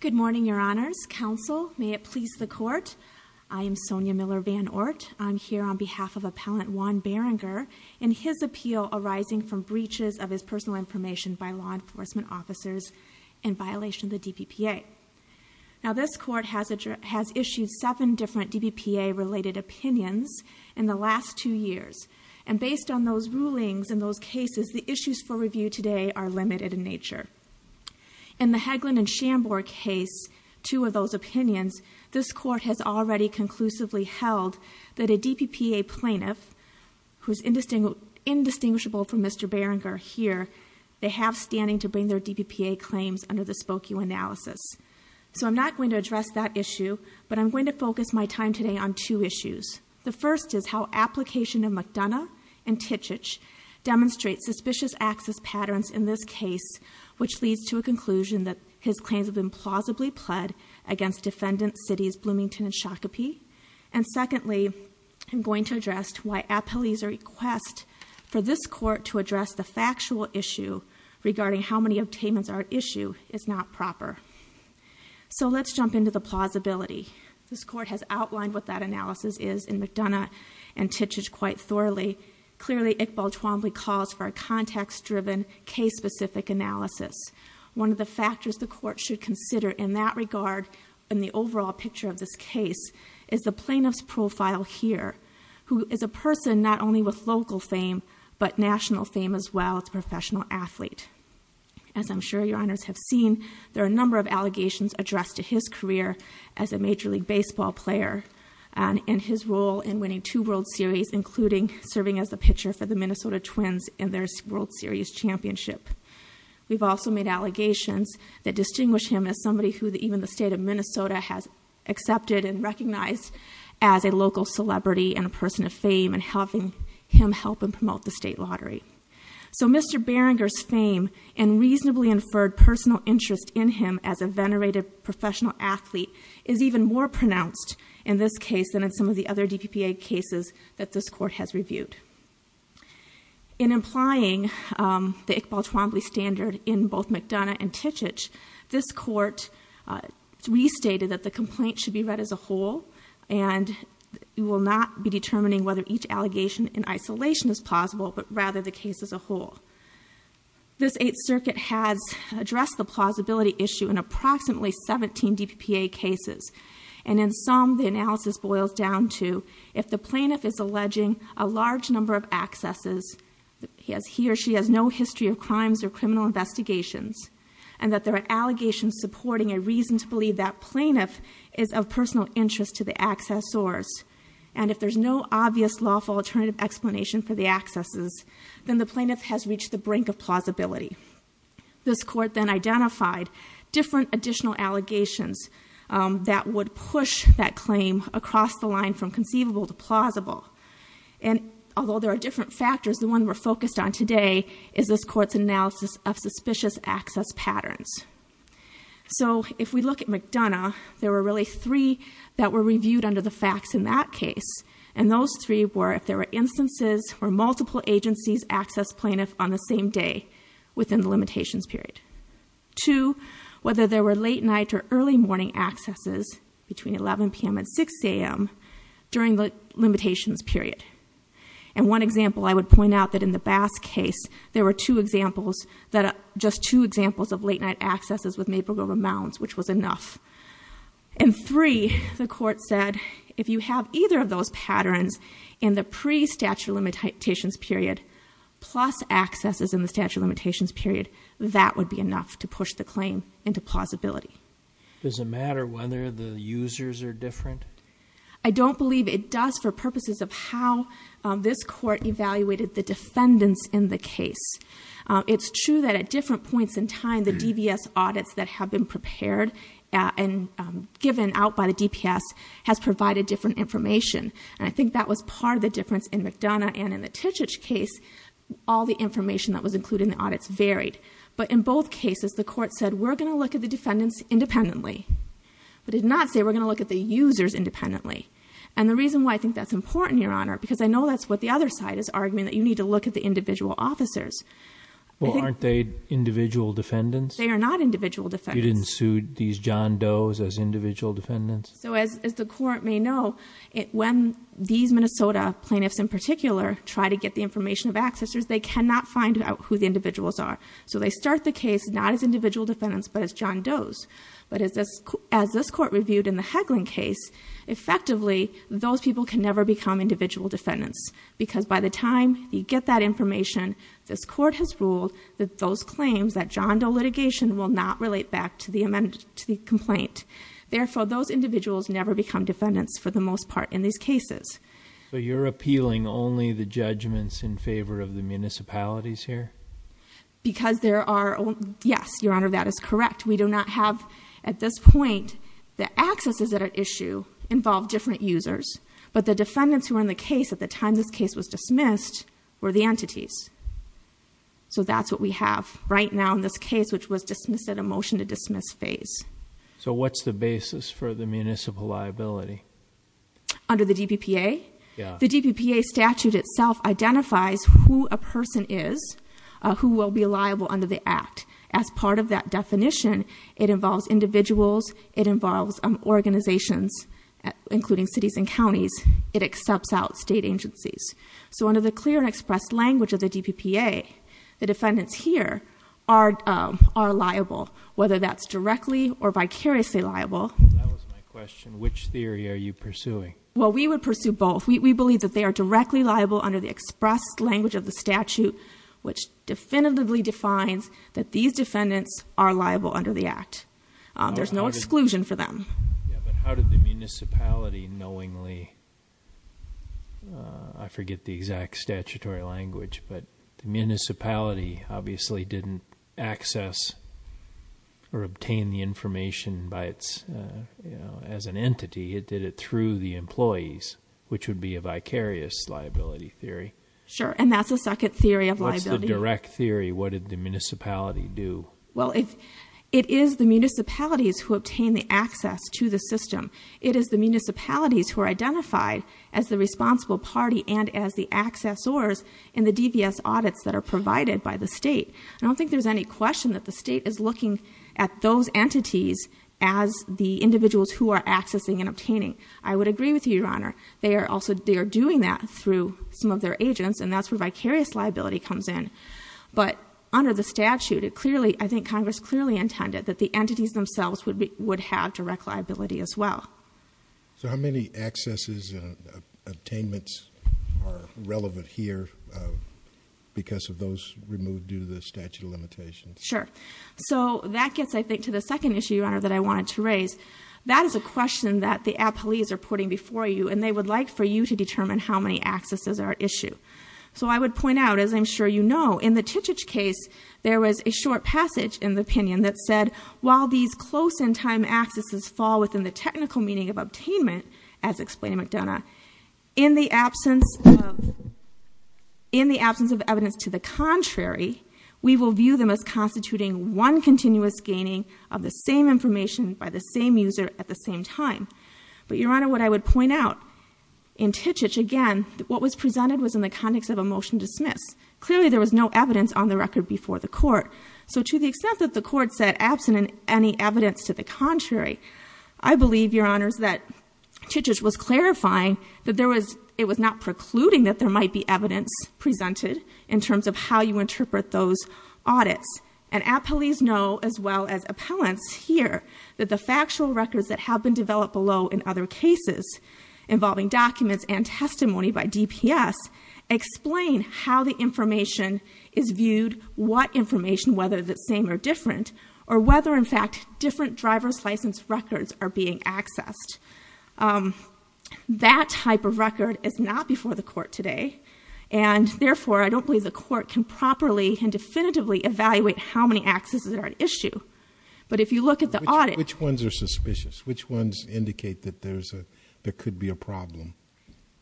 Good morning, your honors. Counsel, may it please the court. I am Sonia Miller-Van Oort. I'm here on behalf of Appellant Juan Berenguer and his appeal arising from breaches of his personal information by law enforcement officers in violation of the DPPA. Now this court has issued seven different DPPA related opinions in the last two years and based on those rulings in those cases the Hagelin and Schambord case, two of those opinions, this court has already conclusively held that a DPPA plaintiff, who's indistinguishable from Mr. Berenguer here, they have standing to bring their DPPA claims under the Spokue analysis. So I'm not going to address that issue but I'm going to focus my time today on two issues. The first is how application of McDonough and Tichich demonstrates suspicious access patterns in this case which leads to a conclusion that his claims have been plausibly pled against defendants cities Bloomington and Shakopee. And secondly, I'm going to address why Appellee's request for this court to address the factual issue regarding how many obtainments are at issue is not proper. So let's jump into the plausibility. This court has outlined what that analysis is in McDonough and Tichich quite thoroughly. Clearly Iqbal Twombly calls for a context-driven case-specific analysis. One of the factors the court should consider in that regard, in the overall picture of this case, is the plaintiff's profile here who is a person not only with local fame but national fame as well as a professional athlete. As I'm sure your honors have seen, there are a number of allegations addressed to his career as a Major League Baseball player and in his role in winning two World Series including serving as the pitcher for the championship. We've also made allegations that distinguish him as somebody who even the state of Minnesota has accepted and recognized as a local celebrity and a person of fame and having him help and promote the state lottery. So Mr. Beringer's fame and reasonably inferred personal interest in him as a venerated professional athlete is even more pronounced in this case than in some of the other DPPA cases that this court has reviewed. In implying the Iqbal Twombly standard in both McDonough and Tichich, this court restated that the complaint should be read as a whole and you will not be determining whether each allegation in isolation is plausible but rather the case as a whole. This Eighth Circuit has addressed the plausibility issue in approximately 17 DPPA cases and in some the analysis boils down to if the plaintiff has no history of crimes or criminal investigations and that there are allegations supporting a reason to believe that plaintiff is of personal interest to the accessors and if there's no obvious lawful alternative explanation for the accesses then the plaintiff has reached the brink of plausibility. This court then identified different additional allegations that would push that claim across the line from conceivable to plausible and although there are different factors the one we're focused on today is this court's analysis of suspicious access patterns. So if we look at McDonough there were really three that were reviewed under the facts in that case and those three were if there were instances where multiple agencies access plaintiff on the same day within the limitations period. Two, whether there were late night or early morning accesses between 11 p.m. and 6 a.m. during the limitations period and one example I would point out that in the Bass case there were two examples that just two examples of late-night accesses with maple grove amounts which was enough and three the court said if you have either of those patterns in the pre statute limitations period plus accesses in the statute limitations period that would be enough to push the claim into I don't believe it does for purposes of how this court evaluated the defendants in the case. It's true that at different points in time the DBS audits that have been prepared and given out by the DPS has provided different information and I think that was part of the difference in McDonough and in the Tichich case all the information that was included in the audits varied but in both cases the court said we're going to look at the defendants independently. It did not say we're going to look at the users independently and the reason why I think that's important your honor because I know that's what the other side is arguing that you need to look at the individual officers. Well aren't they individual defendants? They are not individual defendants. You didn't sue these John Doe's as individual defendants? So as the court may know it when these Minnesota plaintiffs in particular try to get the information of accessors they cannot find out who the individuals are so they start the case not as individual defendants but as John Doe's but as this as this court reviewed in the Heglin case effectively those people can never become individual defendants because by the time you get that information this court has ruled that those claims that John Doe litigation will not relate back to the amendment to the complaint. Therefore those individuals never become defendants for the most part in these cases. So you're appealing only the judgments in favor of the municipalities here? Because there are yes your honor that is correct we do not have at this point the accesses that are issue involve different users but the defendants who are in the case at the time this case was dismissed were the entities. So that's what we have right now in this case which was dismissed at a motion to dismiss phase. So what's the basis for the municipal liability? Under the DPPA? Yeah. The DPPA statute itself identifies who a person is who will be liable under the act as part of that definition it involves individuals it involves organizations including cities and counties it accepts out state agencies. So under the clear and expressed language of the DPPA the defendants here are are liable whether that's directly or vicariously liable. That was my question which theory are you pursuing? Well we would pursue both we believe that they are directly liable under the expressed language of the statute which definitively defines that these defendants are liable under the act. There's no exclusion for them. But how did the municipality knowingly I forget the exact statutory language but the municipality obviously didn't access or obtain the information by its you know as an entity it did it through the employees which would be a vicarious liability theory. Sure and that's the second theory of liability. What's the direct theory what did the municipality do? Well if it is the municipalities who obtain the access to the system it is the municipalities who are identified as the responsible party and as the accessors in the DVS audits that are provided by the state. I don't think there's any question that the state is looking at those entities as the individuals who are accessing and obtaining. I would agree with you your honor they are also they are doing that through some of their agents and that's where vicarious liability comes in. But under the statute it clearly I think Congress clearly intended that the entities themselves would be would have direct liability as well. So how many accesses and attainments are relevant here because of those removed due to the statute of limitations? Sure so that gets I think to the second issue your honor that I wanted to raise. That is a question that the appellees are putting before you and they would like for you to determine how many accesses are at issue. So I would point out as I'm sure you know in the Titich case there was a short passage in the opinion that said while these close in time accesses fall within the technical meaning of obtainment as explained in McDonough in the absence of in the absence of evidence to the contrary we will view them as constituting one continuous gaining of the same information by the same user at the same time. But your honor what I would point out in Titich again what was presented was in the context of a motion dismiss. Clearly there was no evidence on the record before the court. So to the extent that the court said absent in any evidence to the contrary I believe your honors that Titich was clarifying that there was it was not precluding that there might be evidence presented in terms of how you interpret those audits. And appellees know as well as appellants here that the factual records that have been developed below in other cases involving documents and testimony by DPS explain how the information is viewed what information whether the same or different or whether in fact different driver's license records are being accessed. That type of record is not before the court today and therefore I don't believe the court can properly and definitively evaluate how many accesses are at issue. But if you look at the audit which ones are suspicious which ones indicate that there's a there could be a problem.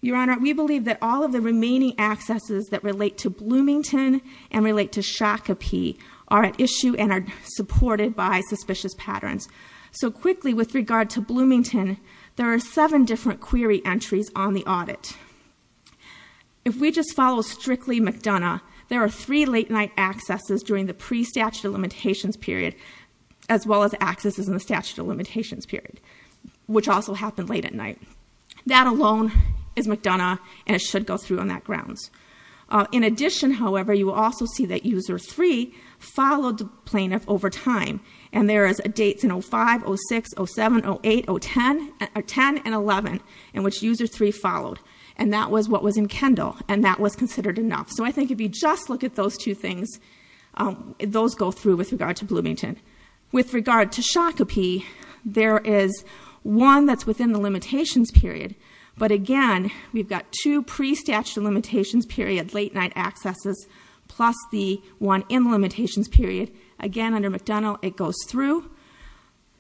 Your honor we believe that all of the remaining accesses that relate to Bloomington and relate to Shakopee are at issue and are supported by suspicious patterns. So quickly with regard to Bloomington there are seven different query entries on the audit. If we just follow strictly McDonough there are three late-night accesses during the pre statute of limitations period as well as accesses in the statute of limitations period which also happened late at night. That alone is McDonough and it should go through on that grounds. In addition however you will also see that user three followed the plaintiff over time and there is a date in 05, 06, 07, 08, 010, 10 and 11 in which user three followed and that was what was in Kendall and that was considered enough. So I think if you just look at those two things those go through with regard to Bloomington. With regard to Shakopee there is one that's within the limitations period but again we've got two pre statute of limitations period late-night accesses plus the one in limitations period again under McDonough it goes through.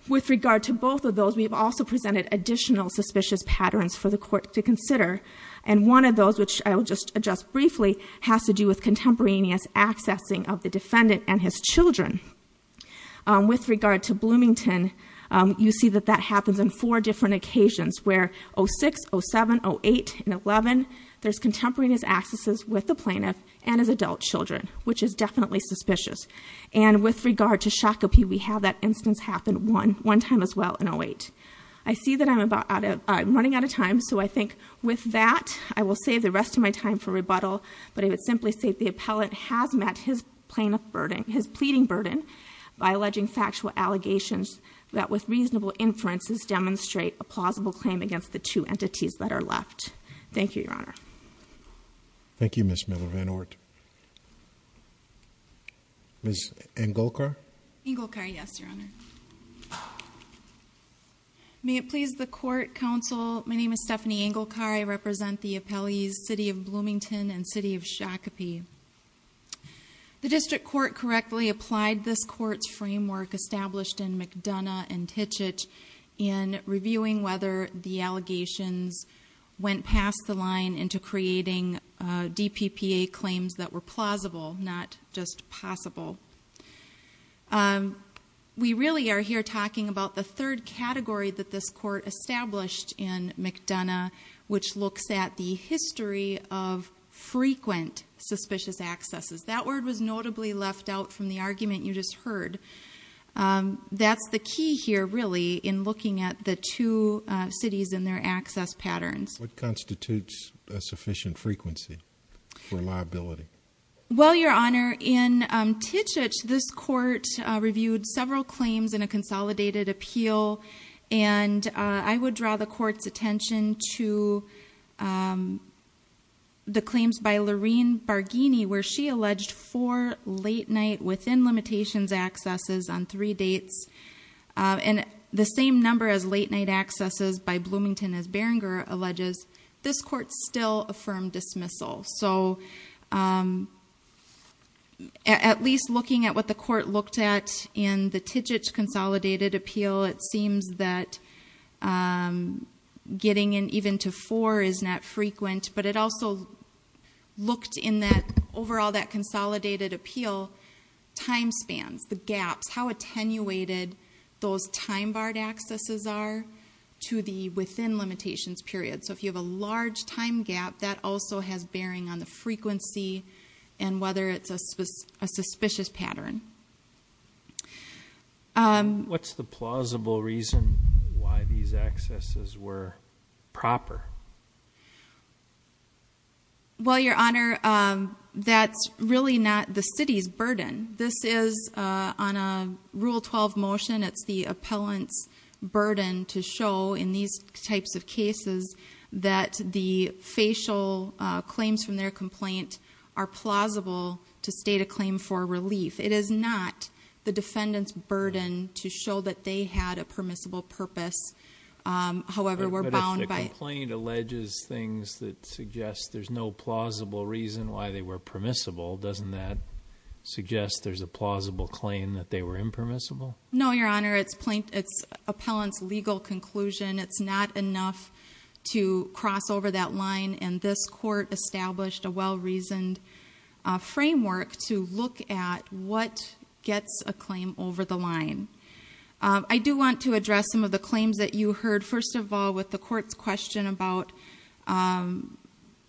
With regard to both of those we've also presented additional suspicious patterns for the court to consider and one of those which I will just adjust briefly has to do with contemporaneous accessing of the defendant and his children. With regard to Bloomington you see that that happens in four different occasions where 06, 07, 08 and 11 there's contemporaneous accesses with the plaintiff and his adult children which is definitely suspicious and with regard to Shakopee we have that instance happen one one time as well in 08. I see that I'm about out of I'm running out of time so I think with that I will save the rest of my time for rebuttal but I would simply say the appellant has met his plaintiff burden his pleading burden by alleging factual allegations that with reasonable inferences demonstrate a plausible claim against the two entities that are left. Thank you Your Honor. Thank you Ms. Miller-Van Oort. Ms. Engelkar? Engelkar, yes Your Honor. May it please the court counsel my name is Stephanie Engelkar I represent the appellees City of Bloomington and City of Shakopee. The district court correctly applied this court's framework established in McDonough and Titchett in reviewing whether the allegations went past the line into creating DPPA claims that were plausible not just possible. We really are here talking about the third category that this court established in McDonough which looks at the history of frequent suspicious accesses. That word was notably left out from the argument you just heard. That's the key here really in looking at the two cities and their access patterns. What constitutes a sufficient frequency for liability? Well Your Honor in Titchett this court reviewed several claims in a consolidated appeal and I would draw the court's attention to the claims by late-night within limitations accesses on three dates and the same number as late-night accesses by Bloomington as Berenger alleges this court still affirmed dismissal. So at least looking at what the court looked at in the Titchett consolidated appeal it seems that getting in even to four is not time spans, the gaps, how attenuated those time barred accesses are to the within limitations period. So if you have a large time gap that also has bearing on the frequency and whether it's a suspicious pattern. What's the plausible reason why these accesses were proper? Well Your Honor that's really not the city's burden. This is on a rule 12 motion it's the appellant's burden to show in these types of cases that the facial claims from their complaint are plausible to state a claim for relief. It is not the defendant's burden to show that they had a permissible purpose however we're bound by... But if the complaint alleges things that suggest there's no plausible reason why they were permissible doesn't that suggest there's a plausible claim that they were impermissible? No Your Honor it's plaintiff's, it's appellant's legal conclusion it's not enough to cross over that line and this court established a well-reasoned framework to look at what gets a claim over the line. I do want to address some of the claims that you heard first of all with the court's question about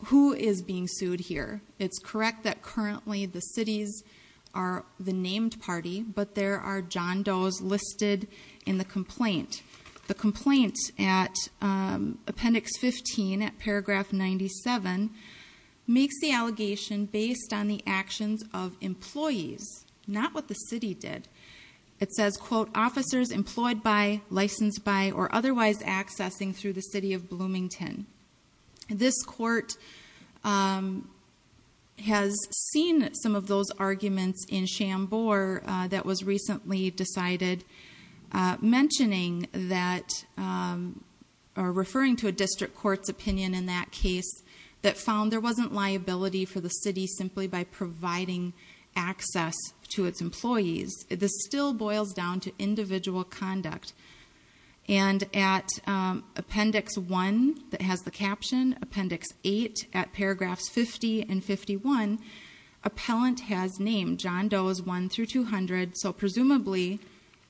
who is being sued here. It's correct that currently the city's are the named party but there are John Doe's listed in the complaint. The complaint at appendix 15 at paragraph 97 makes the allegation based on the actions of employees not what the city did. It says quote officers employed by, licensed by or otherwise accessing through the city of Bloomington. This court has seen some of those arguments in Shambor that was recently decided mentioning that or referring to a district court's opinion in that case that found there wasn't liability for the city simply by providing access to its employees. This still boils down to individual conduct and at appendix 1 that has the caption appendix 8 at paragraphs 50 and 51 appellant has named John Doe's 1 through 200 so presumably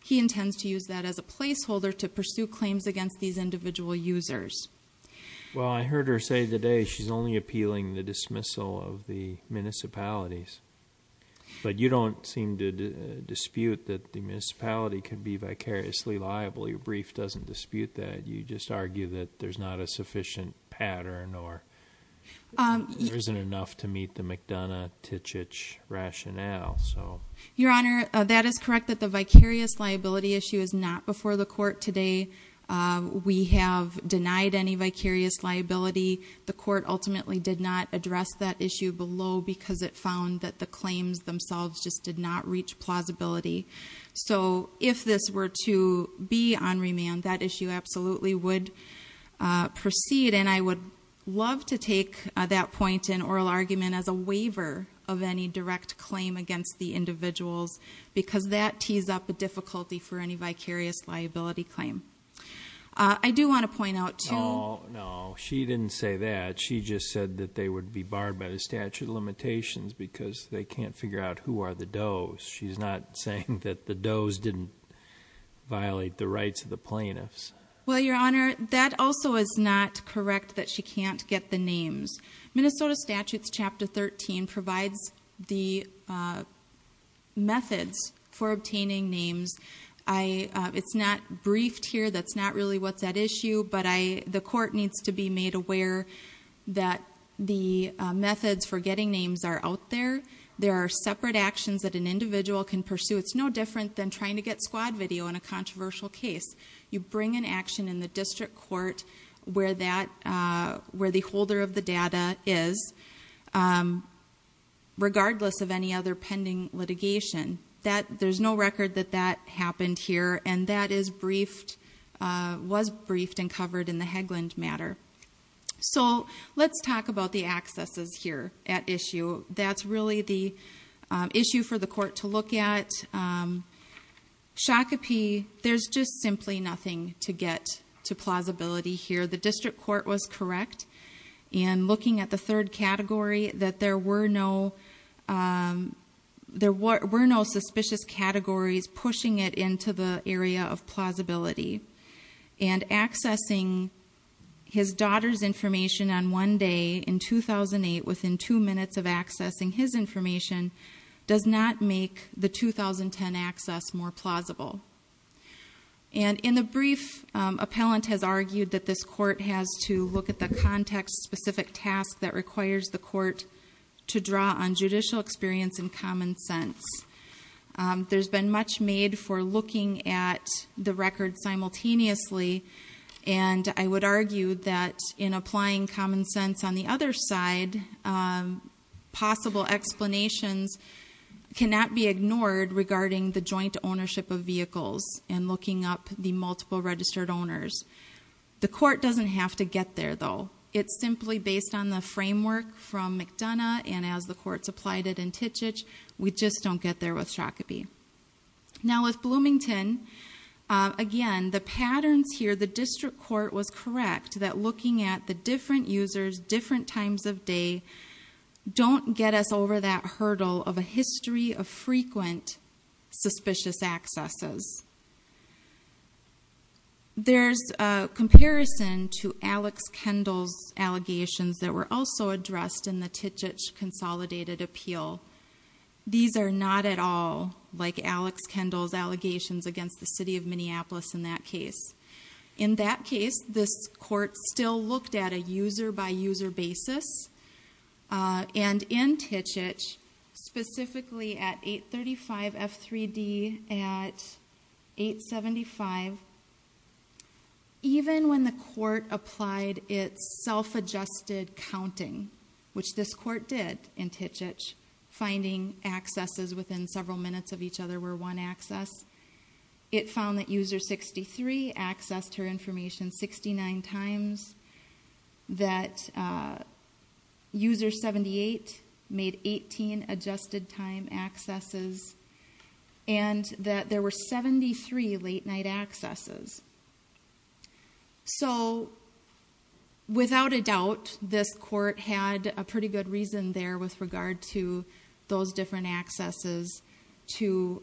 he intends to use that as a placeholder to pursue claims against these individual users. Well I heard her say today she's only appealing the dismissal of the municipalities but you don't seem to dispute that the municipality could be vicariously liable. Your brief doesn't dispute that you just argue that there's not a sufficient pattern or isn't enough to meet the McDonough-Tichich rationale so. Your Honor that is correct that the vicarious liability issue is not before the court today. We have denied any direct claim against the individuals. I do want to point out that the court ultimately did not address that issue below because it found that the claims themselves just did not reach plausibility. So if this were to be on remand that issue absolutely would proceed and I would love to take that point in oral argument as a waiver of any direct claim against the individuals because that tees up a difficulty for any vicarious liability claim. I do want to point out. No no she didn't say that she just said that they would be barred by the statute of limitations because they can't figure out who are the Doe's. She's not saying that the Doe's didn't violate the rights of the plaintiffs. Well Your Honor that also is not correct that she can't get the names. Minnesota statutes chapter 13 provides the methods for obtaining names. It's not briefed here. That's not really what's at issue but the court needs to be made aware that the methods for getting names are out there. There are separate actions that an individual can pursue. It's no different than trying to get squad video in a controversial case. You bring an action in the district court where that where the holder of the data is regardless of any other pending litigation that there's no record that that happened here and that is briefed was briefed and covered in the Haglund matter. So let's talk about the accesses here at issue. That's really the issue for the court to look at. Shakopee there's just simply nothing to get to plausibility here. The district court was correct in looking at the third category that there were no there were no suspicious categories pushing it into the area of plausibility and accessing his daughter's information on one day in 2008 within two minutes of accessing his plausible and in the brief appellant has argued that this court has to look at the context specific task that requires the court to draw on judicial experience and common sense. There's been much made for looking at the record simultaneously and I would argue that in applying common sense on the other side possible explanations cannot be ignored regarding the joint ownership of vehicles and looking up the multiple registered owners. The court doesn't have to get there though. It's simply based on the framework from McDonough and as the courts applied it in Titich we just don't get there with Shakopee. Now with Bloomington again the patterns here the district court was correct that looking at the different users different times of day don't get us over that hurdle of a history of frequent suspicious accesses. There's a comparison to Alex Kendall's allegations that were also addressed in the Titich consolidated appeal. These are not at all like Alex Kendall's allegations against the city of Minneapolis in that case. In that case this court still looked at a user by user basis and in Titich specifically at 835 F3D at 875 even when the court applied its self-adjusted counting which this court did in Titich finding accesses within several minutes of each other were one access. It found that user 63 accessed her information 69 times that user 78 made 18 adjusted time accesses and that there were 73 late-night accesses. So without a doubt this court had a pretty good reason there with regard to those different accesses to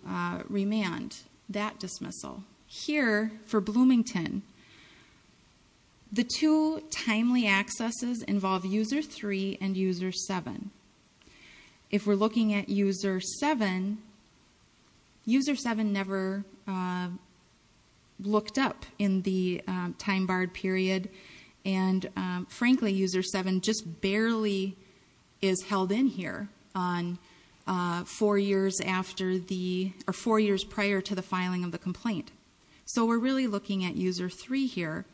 remand that dismissal. Here for Bloomington the two timely accesses involve user 3 and user 7. If we're looking at user 7, user 7 never looked up in the time barred period and frankly user 7 just barely is held in here on four years after the or four years prior to the filing of the complaint. So we're really looking at user 3 here.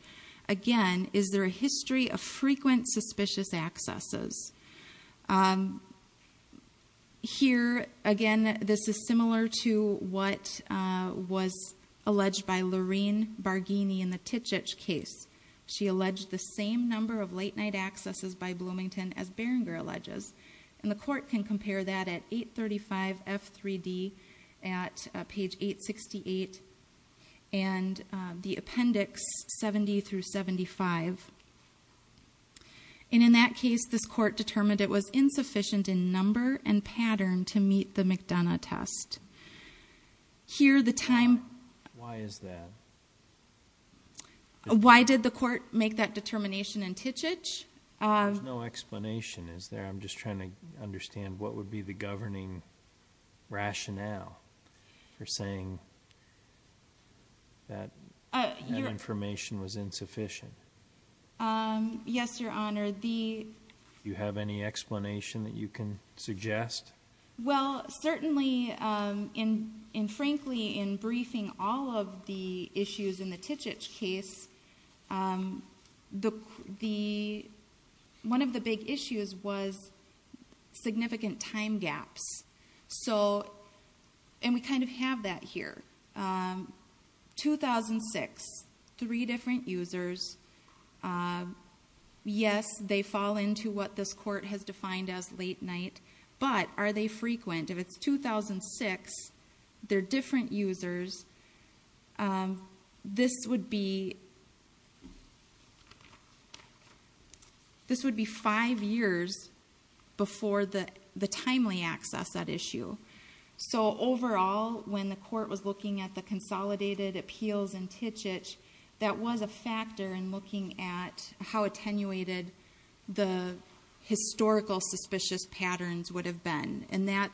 Again is there a history of frequent suspicious accesses? Here again this is similar to what was alleged by Lorene Barghini in the Titich case. She alleged the same number of late-night accesses by Bloomington as Berenger alleges and the court can compare that at 835 F3D at that case this court determined it was insufficient in number and pattern to meet the McDonough test. Here the time... Why is that? Why did the court make that determination in Titich? There's no explanation is there? I'm just trying to understand what would be the governing rationale for saying that information was insufficient? Yes your honor. Do you have any explanation that you can suggest? Well certainly and frankly in briefing all of the issues in the Titich case, one of the big issues was significant time gaps. So and we kind of have that here. 2006, three different users. Yes they fall into what this court has defined as late-night but are they frequent? If it's 2006, they're different users. This would be five years before the timely access at issue. So overall when the court was looking at the consolidated appeals in Titich that was a factor in looking at how attenuated the historical suspicious patterns would have been and that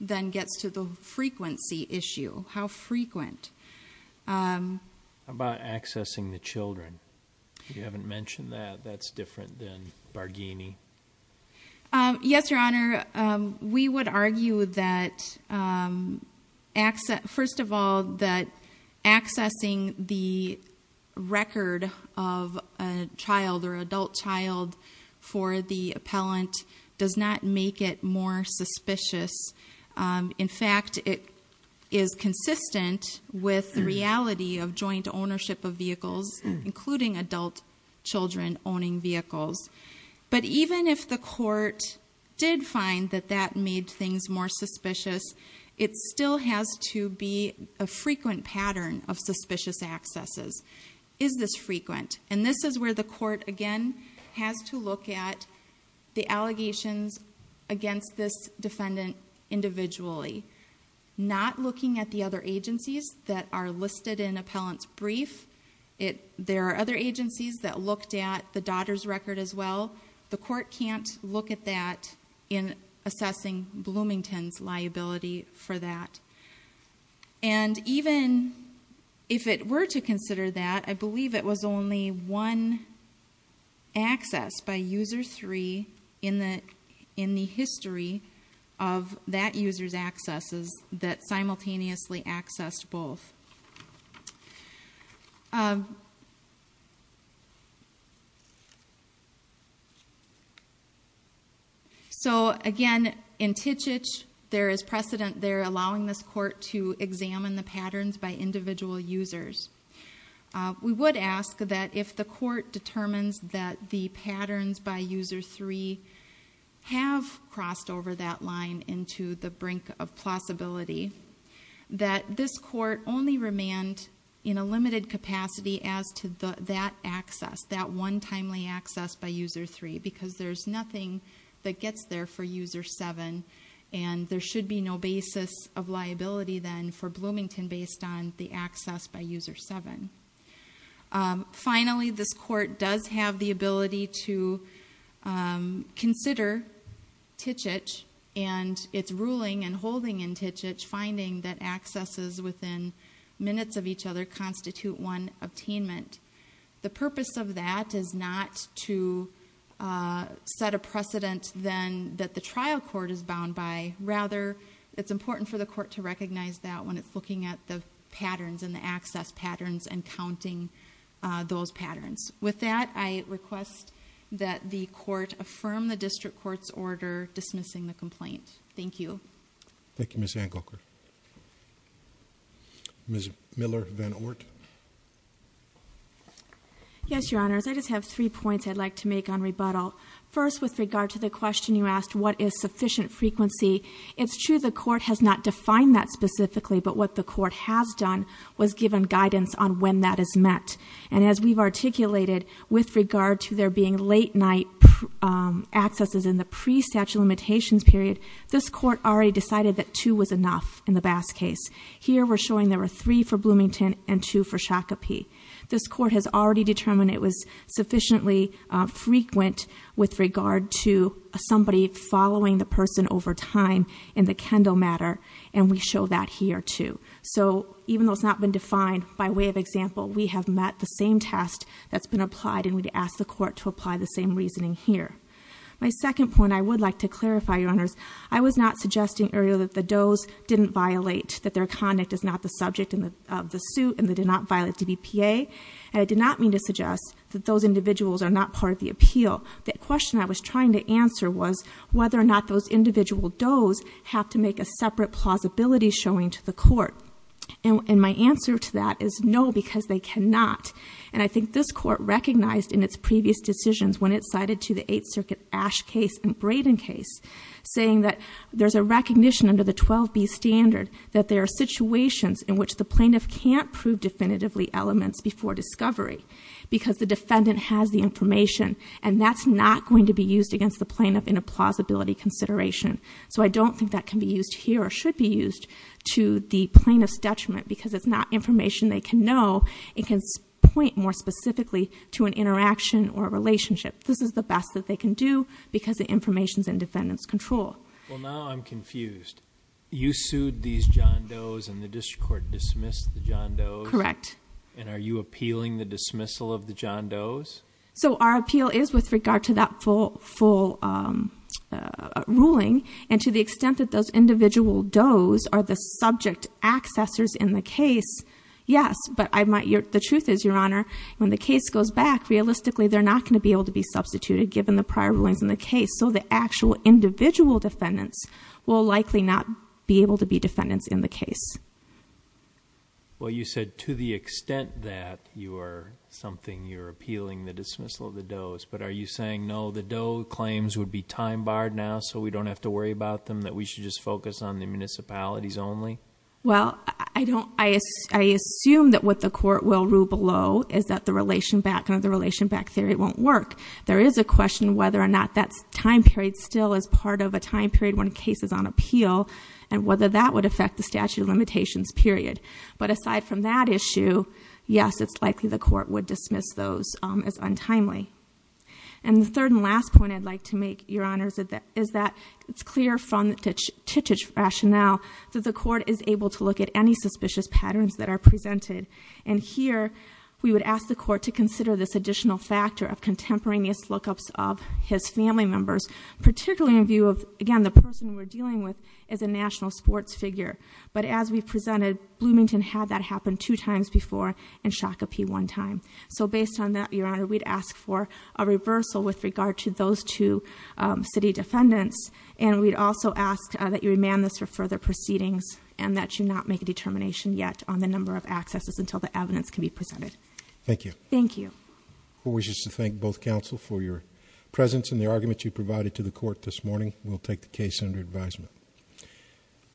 then gets to the frequency issue. How frequent? About accessing the children. You haven't mentioned that. That's different than access. First of all that accessing the record of a child or adult child for the appellant does not make it more suspicious. In fact it is consistent with the reality of joint ownership of vehicles including adult children owning vehicles. But even if the court did find that that made things more suspicious it still has to be a frequent pattern of suspicious accesses. Is this frequent? And this is where the court again has to look at the allegations against this defendant individually. Not looking at the other agencies that are listed in appellant's brief. There are other agencies that looked at the daughter's record as well. The court can't look at that in assessing Bloomington's liability for that. And even if it were to consider that I believe it was only one access by user three in the history of that user's accesses that is precedent there allowing this court to examine the patterns by individual users. We would ask that if the court determines that the patterns by user three have crossed over that line into the brink of plausibility that this court only remand in a limited capacity as to that access. That one timely access by user three because there's nothing that gets there for user seven and there should be no basis of liability then for Bloomington based on the access by user seven. Finally this court does have the ability to consider Titchitch and its ruling and holding in Titchitch finding that accesses within minutes of each other constitute one attainment. The purpose of that is not to set a precedent then that the trial court is bound by. Rather it's important for the court to recognize that when it's looking at the patterns and the access patterns and counting those patterns. With that I request that the court affirm the district court's order dismissing the complaint. Thank you. Thank you Ms. Angleker. Ms. Miller-Van Oort. Yes your honors I just have three points I'd like to make on rebuttal. First with regard to the question you asked what is sufficient frequency. It's true the court has not defined that specifically but what the court has done was given guidance on when that is met. And as we've articulated with regard to there being late-night accesses in the pre-statute limitations period this court already decided that two was enough in the Bass case. Here we're showing there were three for Bloomington and two for Shakopee. This court has already determined it was sufficiently frequent with regard to somebody following the person over time in the Kendall matter and we show that here too. So even though it's not been defined by way of example we have met the same test that's been applied and we'd ask the court to apply the same reasoning here. My second point I would like to clarify your honors I was not earlier that the does didn't violate that their conduct is not the subject of the suit and they did not violate DBPA. I did not mean to suggest that those individuals are not part of the appeal. The question I was trying to answer was whether or not those individual does have to make a separate plausibility showing to the court. And my answer to that is no because they cannot. And I think this court recognized in its previous decisions when it cited to the recognition under the 12b standard that there are situations in which the plaintiff can't prove definitively elements before discovery because the defendant has the information and that's not going to be used against the plaintiff in a plausibility consideration. So I don't think that can be used here or should be used to the plaintiff's detriment because it's not information they can know. It can point more specifically to an interaction or a relationship. This is the best that they can do because the information's in I'm confused. You sued these John Does and the district court dismissed the John Does? Correct. And are you appealing the dismissal of the John Does? So our appeal is with regard to that full ruling and to the extent that those individual does are the subject accessors in the case, yes. But the truth is, Your Honor, when the case goes back, realistically they're not going to be able to be substituted given the prior rulings in the case. So the actual individual defendants will likely not be able to be defendants in the case. Well, you said to the extent that you are something, you're appealing the dismissal of the Does, but are you saying, no, the Does claims would be time barred now so we don't have to worry about them, that we should just focus on the municipalities only? Well, I assume that what the court will rule below is that the relation back or the relation back theory won't work. There is a question whether or not that time period still is part of a time period when a case is on appeal and whether that would affect the statute of limitations period. But aside from that issue, yes, it's likely the court would dismiss those as untimely. And the third and last point I'd like to make, Your Honor, is that it's clear from the Titich rationale that the court is able to look at any suspicious patterns that are presented. And here we would ask the court to consider this in view of, again, the person we're dealing with is a national sports figure. But as we presented, Bloomington had that happen two times before and Shakopee one time. So based on that, Your Honor, we'd ask for a reversal with regard to those two city defendants. And we'd also ask that you remand this for further proceedings and that you not make a determination yet on the number of accesses until the evidence can be presented. Thank you. Thank you. Who wishes to thank both counsel for your presence and the argument you provided to the court this morning? We'll take the case under advisement.